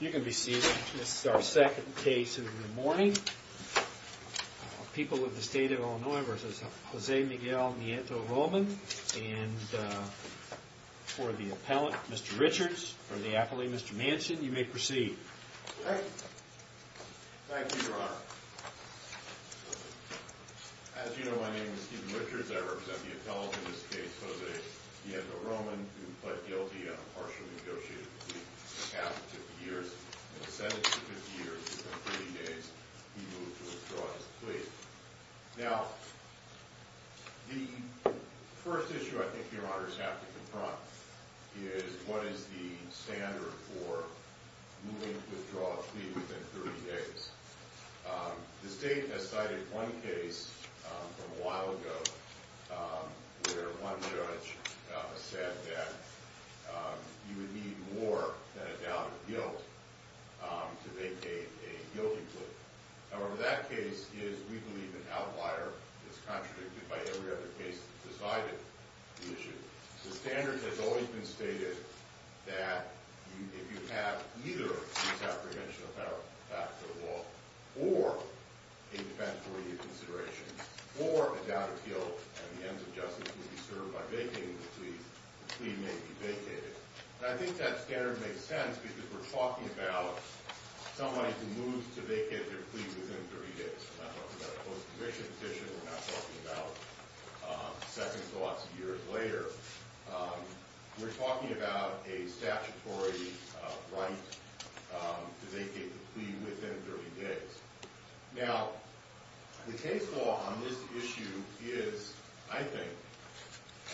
You can be seated. This is our second case of the morning. People of the State of Illinois v. José Miguel Nieto-Roman. And for the appellant, Mr. Richards, for the appellee, Mr. Manchin, you may proceed. Thank you, Your Honor. As you know, my name is Stephen Richards. I represent the appellant in this case, José Nieto-Roman, who pled guilty on a partial negotiated plea in the past 50 years. In the sentence of 50 years, within 30 days, he moved to withdraw his plea. Now, the first issue I think Your Honors have to confront is what is the standard for moving to withdraw a plea within 30 days. The State has cited one case from a while ago where one judge said that you would need more than a doubt of guilt to make a guilty plea. However, that case is, we believe, an outlier. It's contradicted by every other case that decided the issue. The standard has always been stated that if you have neither a plea of apprehension or a federal act of the law, or a defendant for immediate consideration, or a doubt of guilt, and the ends of justice will be served by vacating the plea, the plea may be vacated. And I think that standard makes sense because we're talking about somebody who moves to vacate their plea within 30 days. We're not talking about a post-conviction petition. We're not talking about second thoughts years later. We're talking about a statutory right to vacate the plea within 30 days. Now, the case law on this issue is, I think,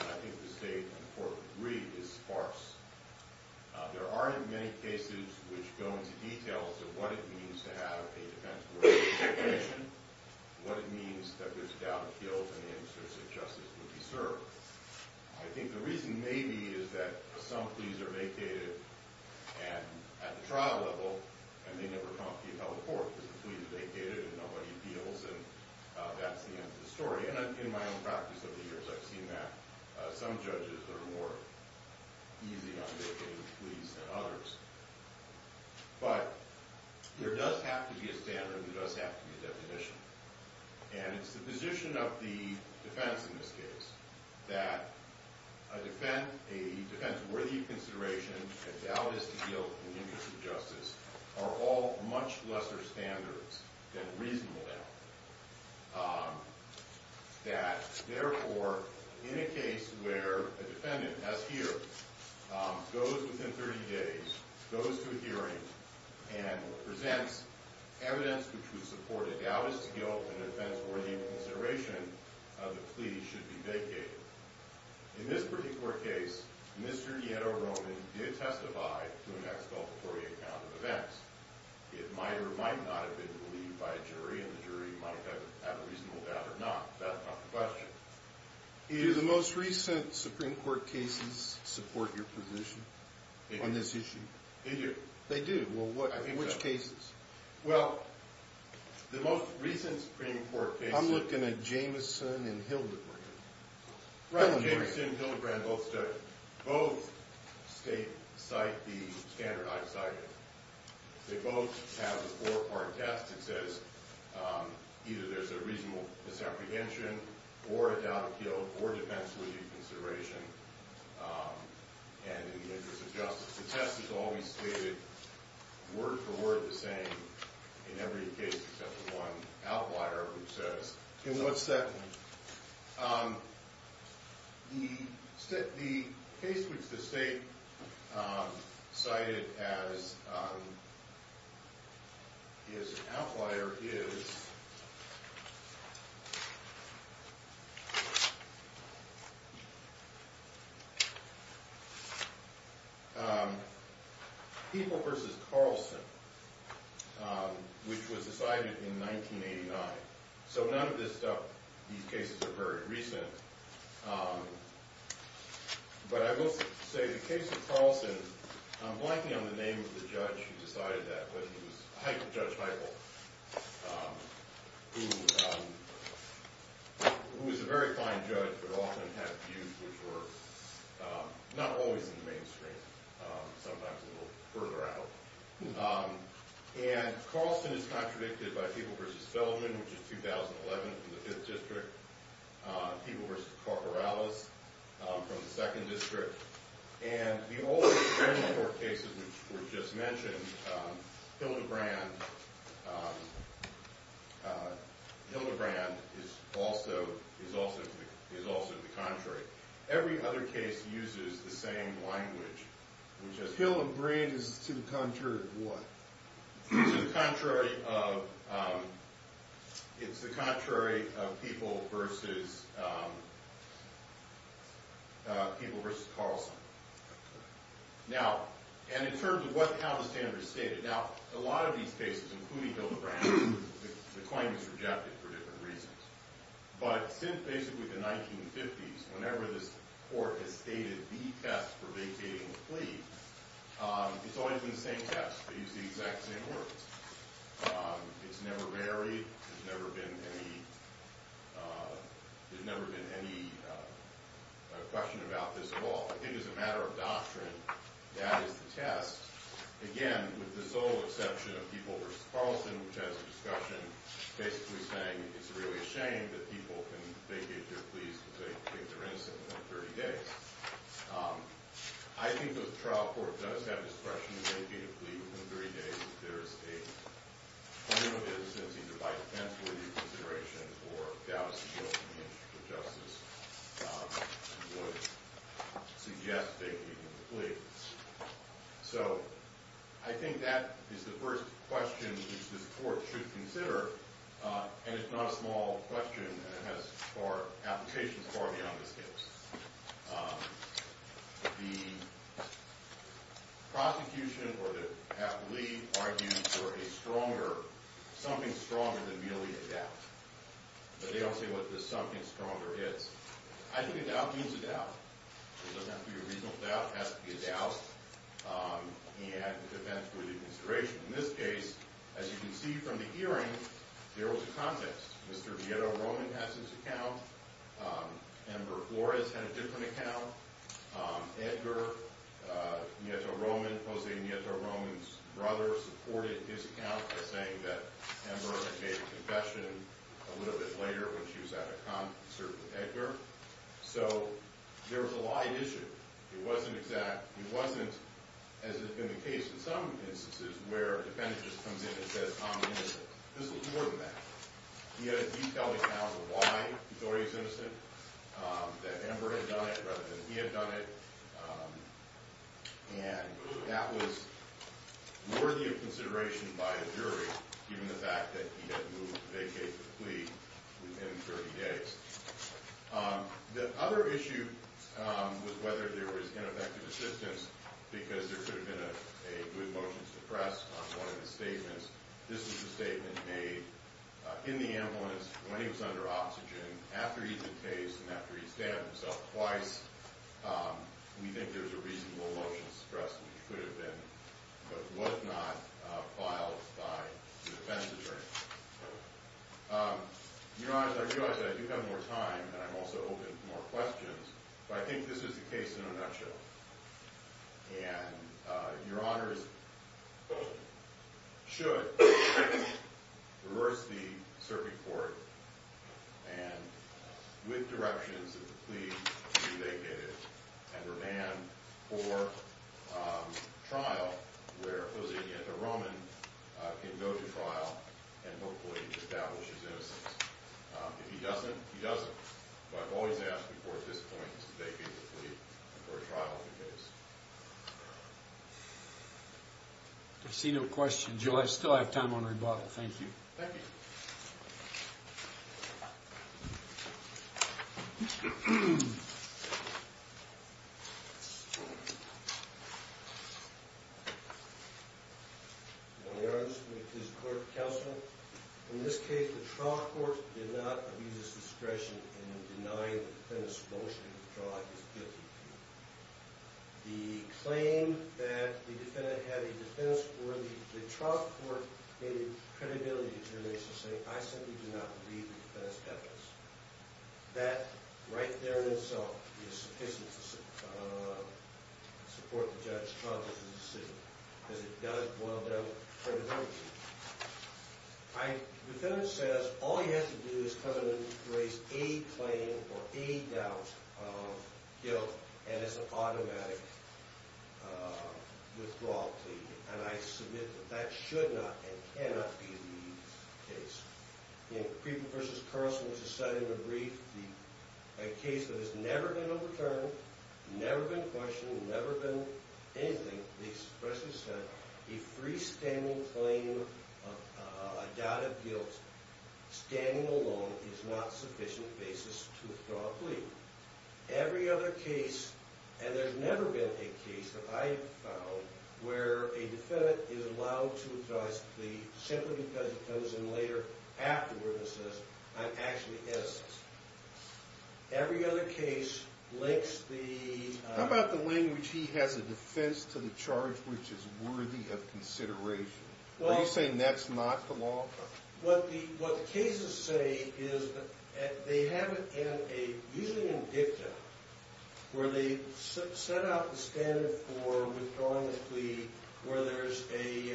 and I think the State and the Court agree, is sparse. There are, in many cases, which go into detail as to what it means to have a defense warrant for a petition, what it means that there's a doubt of guilt, and the ends of justice will be served. I think the reason may be is that some pleas are vacated at the trial level, and they never come to the appellate court because the plea is vacated and nobody appeals, and that's the end of the story. In my own practice over the years, I've seen that. Some judges are more easy on vacating the pleas than others. But there does have to be a standard and there does have to be a definition. And it's the position of the defense in this case that a defense worthy of consideration, a doubt is to guilt, and the ends of justice are all much lesser standards than reasonable doubt. That, therefore, in a case where a defendant, as here, goes within 30 days, goes to a hearing, and presents evidence which would support a doubt is to guilt, a defense worthy of consideration, the plea should be vacated. In this particular case, Mr. Nieto Roman did testify to an exculpatory account of events. It might or might not have been believed by a jury, and the jury might have a reasonable doubt or not. That's not the question. Do the most recent Supreme Court cases support your position on this issue? They do. They do? Well, which cases? Well, the most recent Supreme Court case... You looked at Jamison and Hildebrand. Jamison and Hildebrand both state the standard I've cited. They both have a four-part test that says either there's a reasonable misapprehension or a doubt of guilt or defense worthy of consideration, and in the interest of justice. The test is always stated word for word the same in every case except for one outlier, which says, In what setting? The case which the state cited as an outlier is... People v. Carlson, which was decided in 1989. So none of these cases are very recent, but I will say the case of Carlson, I'm blanking on the name of the judge who decided that, but he was Judge Heigl, who was a very fine judge but often had views which were not always in the mainstream, sometimes a little further out. And Carlson is contradicted by People v. Feldman, which is 2011 from the 5th District, People v. Corporalis from the 2nd District, and the old Supreme Court cases which were just mentioned, Hildebrand is also to the contrary. Every other case uses the same language, which is... Hildebrand is to the contrary of what? To the contrary of... It's the contrary of People v. Carlson. Now, and in terms of how the standard is stated, now, a lot of these cases, including Hildebrand, the claim is rejected for different reasons. But since basically the 1950s, whenever this court has stated the test for vacating the plea, it's always been the same test, they use the exact same words. It's never varied, there's never been any question about this at all. I think as a matter of doctrine, that is the test. Again, with the sole exception of People v. Carlson, which has a discussion, basically saying it's really a shame that people can vacate their pleas because they think they're innocent within 30 days. I think that the trial court does have discretion to vacate a plea within 30 days if there is a claim of innocence either by defense or reconsideration, or a doubt as to the ultimate interest of justice, and would suggest vacating the plea. So I think that is the first question that this court should consider, and it's not a small question, and it has applications far beyond this case. The prosecution, or the half plea, argues for a stronger, something stronger than merely a doubt. But they don't say what the something stronger is. I think a doubt means a doubt. It doesn't have to be a reasonable doubt, it has to be a doubt. And it depends on the consideration. In this case, as you can see from the hearing, there was a context. Mr. Nieto-Roman has his account. Amber Flores had a different account. Edgar Nieto-Roman, José Nieto-Roman's brother, supported his account by saying that Amber had made a confession a little bit later when she was at a concert with Edgar. So there was a lie at issue. It wasn't exact. It wasn't, as has been the case in some instances, where a defendant just comes in and says, I'm innocent. This was more than that. He had a detailed account of why he thought he was innocent, that Amber had done it rather than he had done it, and that was worthy of consideration by a jury, given the fact that he had moved to vacate the plea within 30 days. The other issue was whether there was ineffective assistance, because there could have been a good motion suppressed on one of his statements. This was the statement made in the ambulance when he was under oxygen, after he had decased and after he stabbed himself twice. We think there's a reasonable motion suppressed, which could have been, but was not, filed by the defense attorney. Your Honors, I realize that I do have more time, and I'm also open to more questions, but I think this is the case in a nutshell, and Your Honors should reverse the circuit court and demand for trial where a Roman can go to trial and hopefully establish his innocence. If he doesn't, he doesn't. But I've always asked before at this point to vacate the plea for a trial on the case. I see no question. Joe, I still have time on rebuttal. Thank you. Thank you. Thank you. Your Honors, with this court counsel, in this case the trial court did not abuse its discretion in denying the defendant's motion to withdraw his guilty plea. The claim that the defendant had a defense worthy, the trial court made a credibility determination saying, I simply do not believe the defendant's evidence. That right there in itself is sufficient to support the judge's charge of the decision, because it does boil down to credibility. The defendant says all he has to do is come in and raise a claim or a doubt of guilt, and it's an automatic withdrawal plea, and I submit that that should not and cannot be the case. In Creeper v. Carson, which is cited in the brief, a case that has never been overturned, never been questioned, never been anything, the express consent, a freestanding claim of a doubt of guilt, standing alone, is not sufficient basis to withdraw a plea. Every other case, and there's never been a case that I have found where a defendant is allowed to withdraw his plea simply because he comes in later afterwards and says, I'm actually innocent. Every other case links the... How about the language, he has a defense to the charge which is worthy of consideration? Are you saying that's not the law? What the cases say is that they have it in a, usually in dicta, where they set out the standard for withdrawing a plea where there's a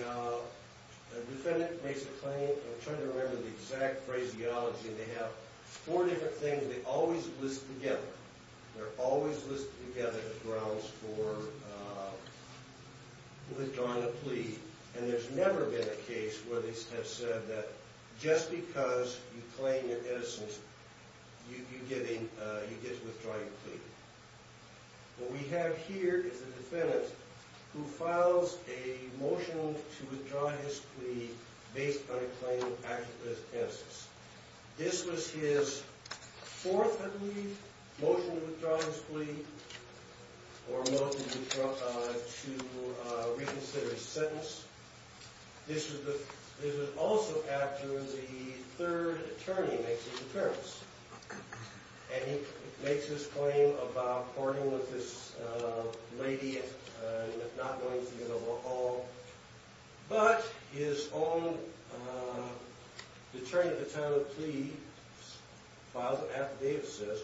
defendant makes a claim. I'm trying to remember the exact phraseology. They have four different things. They always list together. They're always listed together as grounds for withdrawing a plea, and there's never been a case where they have said that just because you claim your innocence, you get withdrawing a plea. What we have here is a defendant who files a motion to withdraw his plea based on a claim acted as evidence. This was his fourth, I believe, or motion to reconsider his sentence. This was also after the third attorney makes his appearance, and he makes his claim about partying with this lady and not going to get along, but his own attorney at the time of the plea files an affidavit and says,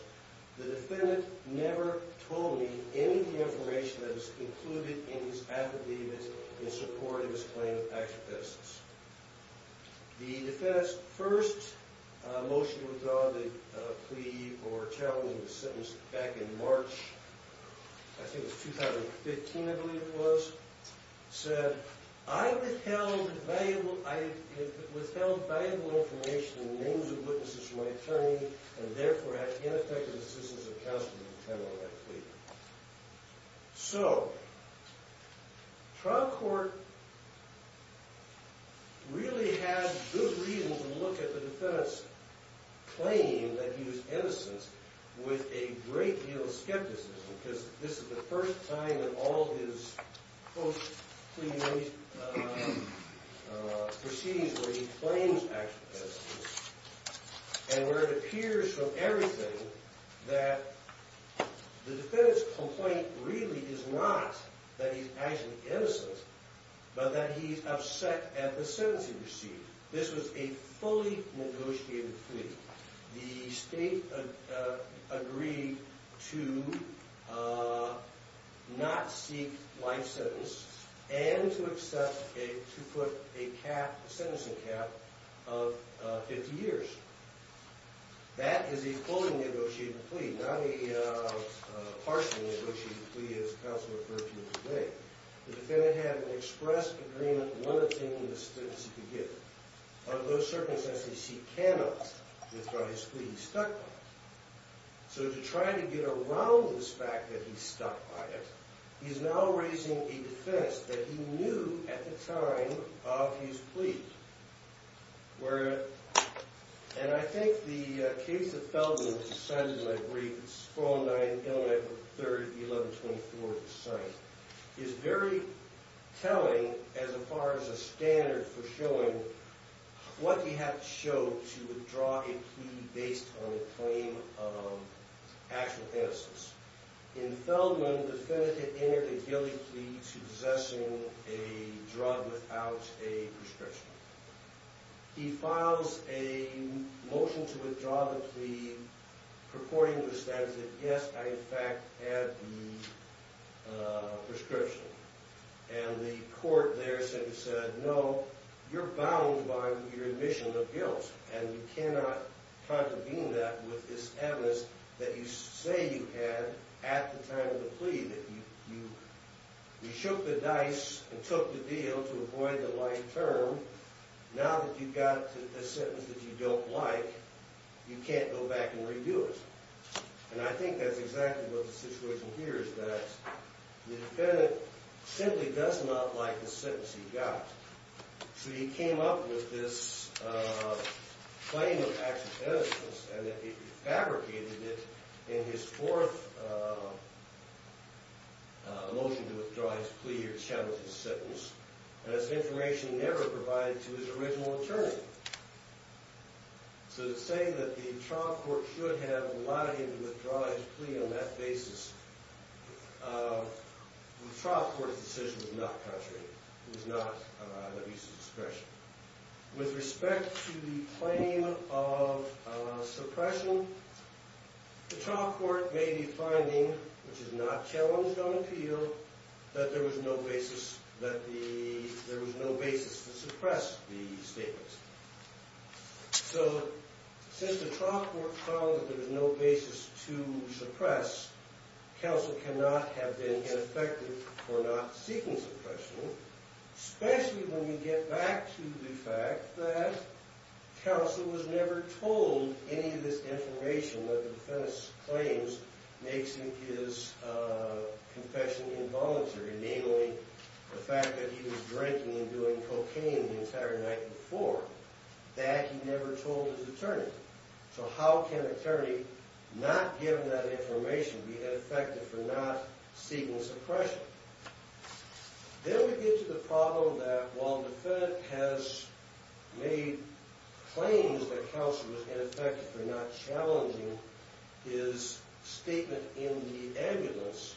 the defendant never told me any of the information that was included in his affidavit in support of his claim of actual innocence. The defendant's first motion to withdraw the plea or challenging the sentence back in March, I think it was 2015, I believe it was, said, I have withheld valuable information and names of witnesses from my attorney and therefore have ineffective assistance of counsel to determine what I plead. So, trial court really had good reason to look at the defendant's claim that he was innocent with a great deal of skepticism because this is the first time in all his post-plea proceedings where he claims actual innocence and where it appears from everything that the defendant's complaint really is not that he's actually innocent, but that he's upset at the sentence he received. This was a fully negotiated plea. The state agreed to not seek life sentence and to put a sentencing cap of 50 years. That is a fully negotiated plea, not a partially negotiated plea as counsel referred to it today. The defendant had an express agreement limiting the sentence he could get. Under those circumstances, he cannot withdraw his plea. He's stuck by it. So to try to get around this fact that he's stuck by it, he's now raising a defense that he knew at the time of his plea where, and I think the case of Feldman which is cited in my brief, it's 409 Illinois 3rd, 1124 at the site, is very telling as far as a standard for showing what he had to show to withdraw a plea based on a claim of actual innocence. In Feldman, the defendant had entered a guilty plea to possessing a drug without a prescription. He files a motion to withdraw the plea purporting to the statute that, yes, I in fact had the prescription. And the court there simply said, no, you're bound by your admission of guilt and you cannot contravene that with this evidence that you say you had at the time of the plea, that you shook the dice and took the deal to avoid the life term. Now that you've got a sentence that you don't like, you can't go back and redo it. And I think that's exactly what the situation here is that the defendant simply does not like the sentence he got. So he came up with this claim of actual innocence and fabricated it in his fourth motion to withdraw his plea or challenge his sentence as information never provided to his original attorney. So the saying that the trial court should have allowed him to withdraw his plea on that basis, the trial court's decision was not contrary. It was not about abuse of discretion. With respect to the claim of suppression, the trial court may be finding, which is not challenged on appeal, that there was no basis to suppress the statement. So since the trial court found that there was no basis to suppress, counsel cannot have been ineffective for not seeking suppression, especially when you get back to the fact that counsel was never told any of this information that the defense claims makes his confession involuntary, namely the fact that he was drinking and doing cocaine the entire night before. That, he never told his attorney. So how can an attorney not given that information be ineffective for not seeking suppression? Then we get to the problem that while the defendant has made claims that counsel was ineffective for not challenging his statement in the ambulance,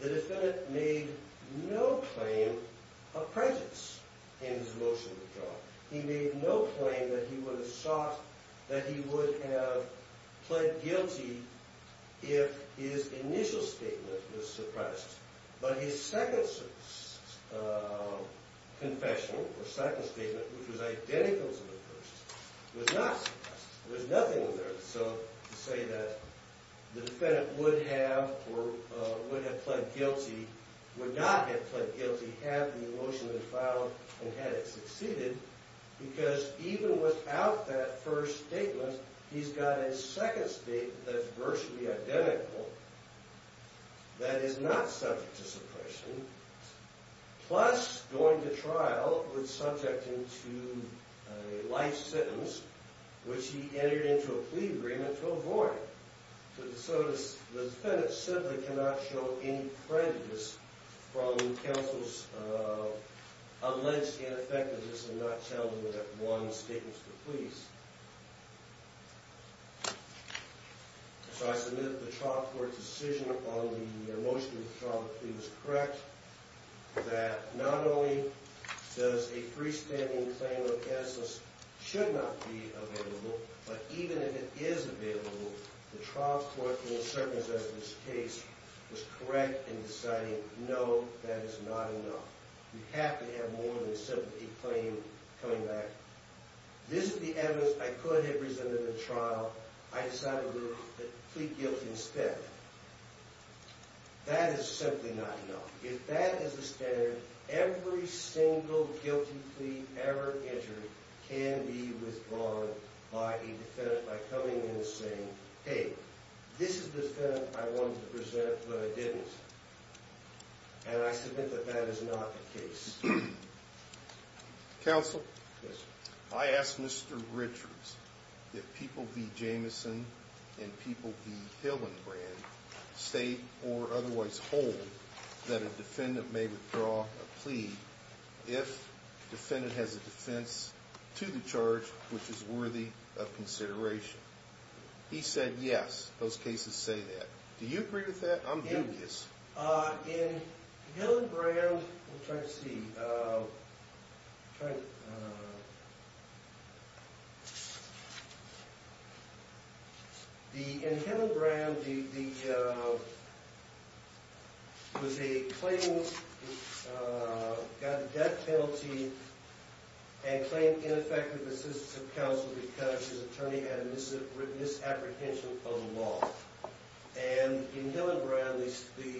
the defendant made no claim of presence in his motion to withdraw. He made no claim that he would have sought, that he would have pled guilty if his initial statement was suppressed. But his second confession, or second statement, which was identical to the first, was not suppressed. There was nothing in there to say that the defendant would have or would have pled guilty, would not have pled guilty had the motion been filed and had it succeeded, because even without that first statement, he's got his second statement that's virtually identical that is not subject to suppression, plus going to trial with subject him to a life sentence, which he entered into a plea agreement to avoid. So the defendant simply cannot show any prejudice from counsel's alleged ineffectiveness and not challenge that one statement to the police. So I submit that the trial court's decision on the motion to withdraw the plea was correct, that not only does a freestanding claim of absence should not be available, but even if it is available, the trial court, in the circumstances of this case, was correct in deciding, no, that is not enough. You have to have more than simply a claim coming back. This is the evidence I could have presented in the trial. I decided to plead guilty instead. That is simply not enough. If that is the standard, every single guilty plea ever entered can be withdrawn by a defendant by coming in and saying, hey, this is the defendant I wanted to present, but I didn't. And I submit that that is not the case. Counsel? Yes, sir. I asked Mr. Richards if people v. Jameson and people v. Hillenbrand state or otherwise hold that a defendant may withdraw a plea if the defendant has a defense to the charge which is worthy of consideration. He said yes, those cases say that. Do you agree with that? I'm doing this. In Hillenbrand, we'll try to see. In Hillenbrand, there was a claim, got a death penalty and claimed ineffective assistance of counsel because his attorney had a misapprehension of the law. And in Hillenbrand, the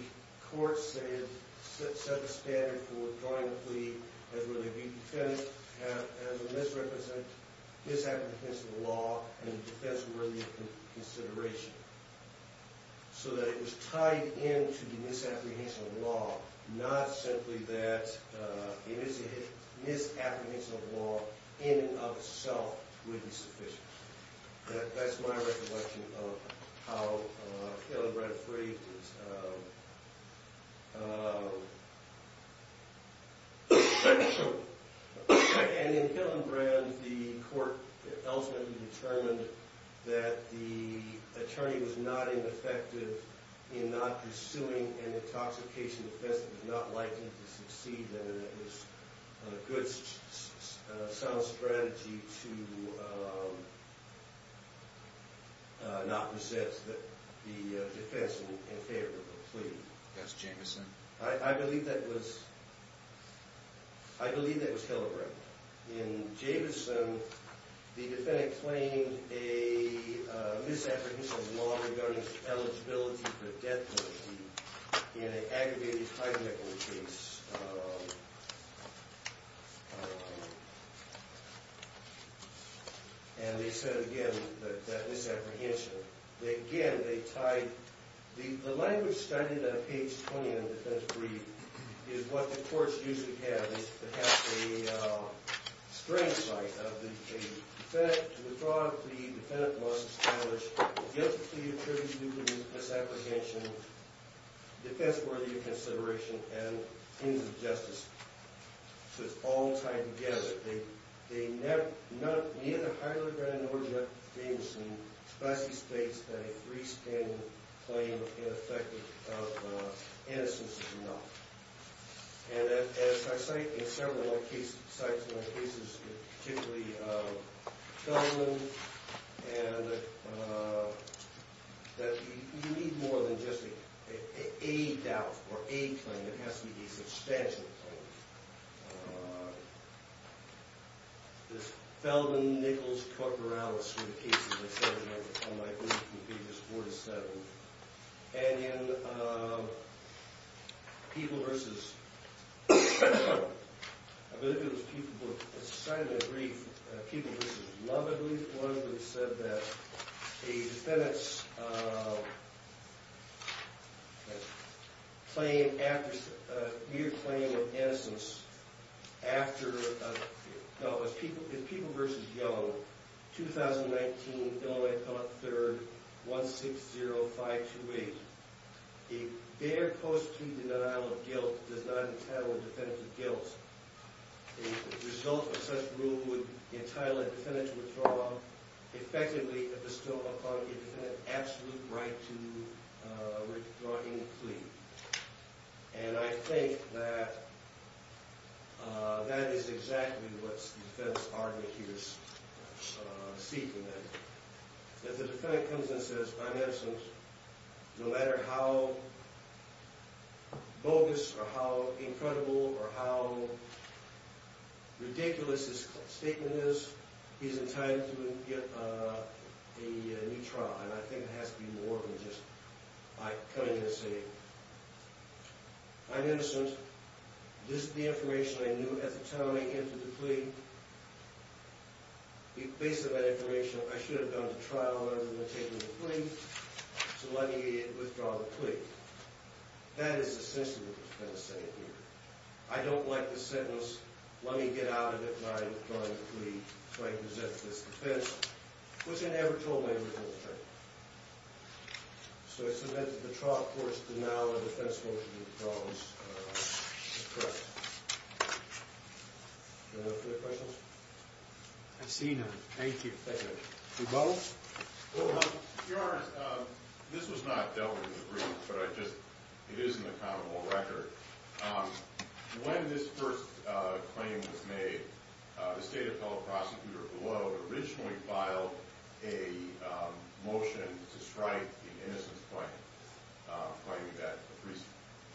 court set the standard for withdrawing a plea where the defendant has a misapprehension of the law and a defense worthy of consideration so that it was tied into the misapprehension of the law, not simply that it is a misapprehension of the law in and of itself would be sufficient. That's my recollection of how Hillenbrand phrased it. And in Hillenbrand, the court ultimately determined that the attorney was not ineffective in not pursuing an intoxication offense that was not likely to succeed and that it was a good, sound strategy to not possess the defense in favor of the plea. That's Jamison. I believe that was Hillenbrand. In Jamison, the defendant claimed a misapprehension of the law regarding eligibility for death penalty in an aggravated high-definition case. And they said, again, that misapprehension. Again, they tied the language studied on page 29 of the defense brief is what the courts usually have. They have a strange site of the defendant. To withdraw a plea, the defendant must establish a guilty plea attributed to misapprehension, defense worthy of consideration, and ends of justice. So it's all tied together. Neither Hillenbrand nor Jamison specifically states that a freestanding claim of ineffective innocence is enough. And as I cite in several of my cases, particularly Feldman, that you need more than just a doubt or a claim. It has to be a substantial claim. This Feldman-Nichols-Corporellis sort of case that I cited on my first few pages, 47. And in People v. I believe it was People v. Society of the Aggrieved, People v. Love Aggrieved, one of them said that a defendant's mere claim of innocence after, no, it was People v. Young, 2019 Illinois Court, 3rd, 160528, a bare post-plea denial of guilt does not entitle a defendant to guilt. The result of such rule would entitle a defendant to withdraw, effectively, a bestow upon a defendant absolute right to withdraw any plea. And I think that that is exactly what the defendant's argument here is seeking. That the defendant comes and says, I'm innocent, no matter how bogus or how incredible or how ridiculous his statement is, he's entitled to get a new trial. And I think it has to be more than just by coming in and saying, I'm innocent. This is the information I knew at the time I entered the plea. Based on that information, I should have gone to trial rather than taking the plea. So let me withdraw the plea. That is essentially what the defendant's saying here. I don't like the sentence, let me get out of it by withdrawing the plea so I can present this defense. Which I never told my inmate to withdraw the plea. So I submitted the trial court's denial of defense motion to the prose. That's correct. Anyone have further questions? I see none. Thank you. You both? Well, Your Honor, this was not dealt with in the brief, but it is an accountable record. When this first claim was made, the State Appellate Prosecutor below originally filed a motion to strike an innocence claim,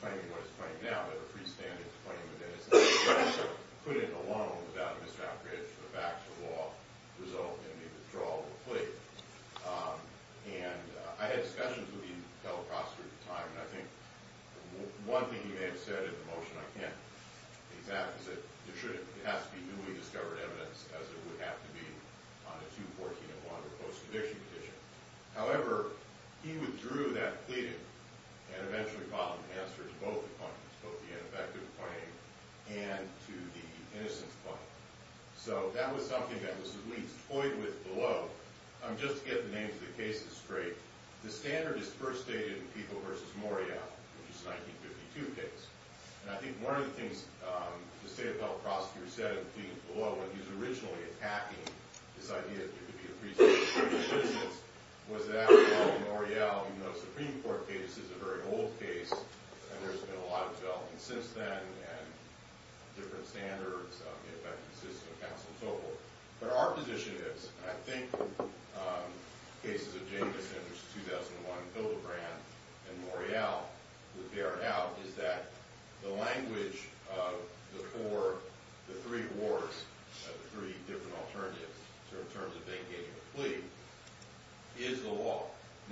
claiming what it's claiming now, that a freestanding claim of innocence could not be put in a loan without a misdraft bridge for the facts of the law, resulting in the withdrawal of the plea. And I had discussions with the Appellate Prosecutor at the time, and I think one thing he may have said in the motion, I can't exact, is that it has to be newly discovered evidence, as it would have to be on a 2-14-1 or post-conviction petition. However, he withdrew that pleading and eventually filed an answer to both the claims, both the ineffective claim and to the innocence claim. So that was something that was at least toyed with below. Just to get the names of the cases straight, the standard is first stated in Peeble v. Morreale, which is a 1952 case. And I think one of the things the State Appellate Prosecutor said in the plea below when he was originally attacking this idea that there could be a freestanding claim of innocence was that, well, in Morreale, even though the Supreme Court case is a very old case, and there's been a lot of development since then, and different standards, the effective system, counsel, and so forth. But our position is, and I think cases of Jacobson, which is 2001, Bilderbrand, and Morreale would bear it out, is that the language of the three wars, of the three different alternatives in terms of them getting a plea, is the law.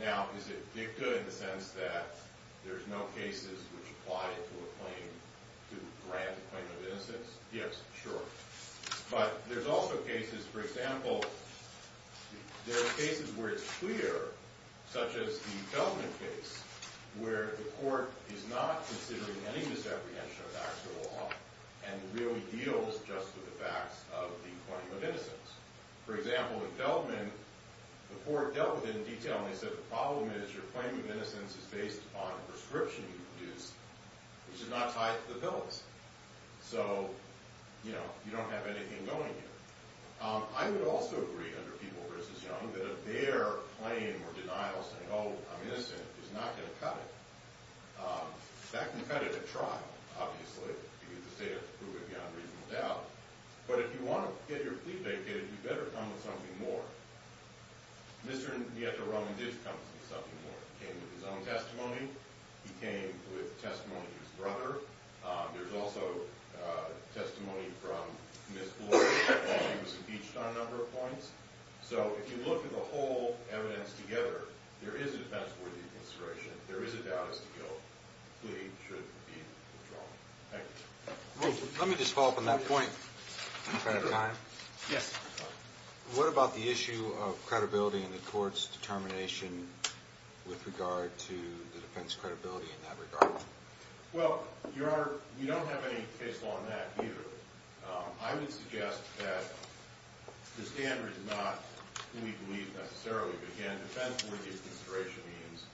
Now, is it dicta in the sense that there's no cases which apply to a claim, to grant a claim of innocence? Yes, sure. But there's also cases, for example, there are cases where it's clear, such as the Feldman case, where the court is not considering any disapprehension of actual law and really deals just with the facts of the claim of innocence. For example, in Feldman, the court dealt with it in detail, and they said the problem is your claim of innocence is based upon a prescription you produced, which is not tied to the felons. So, you know, you don't have anything going here. I would also agree, under People v. Young, that a fair claim or denial saying, oh, I'm innocent, is not going to cut it. That can cut it a try, obviously, because the state has to prove it beyond reasonable doubt. But if you want to get your plea vacated, you better come up with something more. Mr. Nietzsche-Roman did come up with something more. He came with his own testimony. He came with testimony of his brother. There's also testimony from Ms. Floyd when she was impeached on a number of points. So if you look at the whole evidence together, there is a defense worthy of consideration. There is a doubt as to guilt. The plea should be withdrawn. Thank you. Let me just follow up on that point, if I have time. Yes. What about the issue of credibility in the court's determination with regard to the defense credibility in that regard? Well, Your Honor, we don't have any case law on that either. I would suggest that the standard is not who we believe necessarily, but, again, defense worthy of consideration means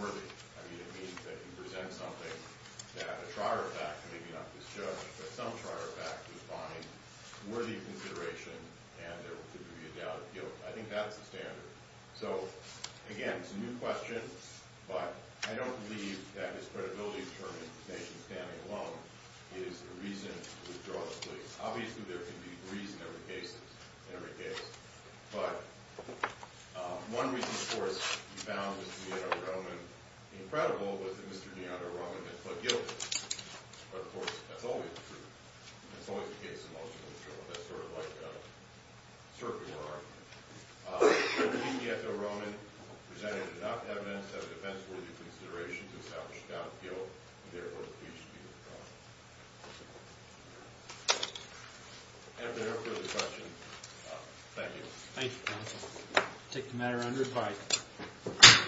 worthy. I mean, it means that you present something that a trier of fact, maybe not this judge, but some trier of fact, would find worthy of consideration and there could be a doubt of guilt. I think that's the standard. So, again, it's a new question, but I don't believe that his credibility determination standing alone is the reason to withdraw the plea. Obviously, there could be a reason in every case. But one reason, of course, we found Mr. DeAndre Roman incredible was that Mr. DeAndre Roman had pled guilty. But, of course, that's always the case in most of the trials. I don't know if that's sort of like a circular argument. But we believe DeAndre Roman presented enough evidence of a defense worthy of consideration to establish doubt of guilt, and, therefore, the plea should be withdrawn. If there are further questions, thank you. Thank you, counsel. We'll take the matter under review.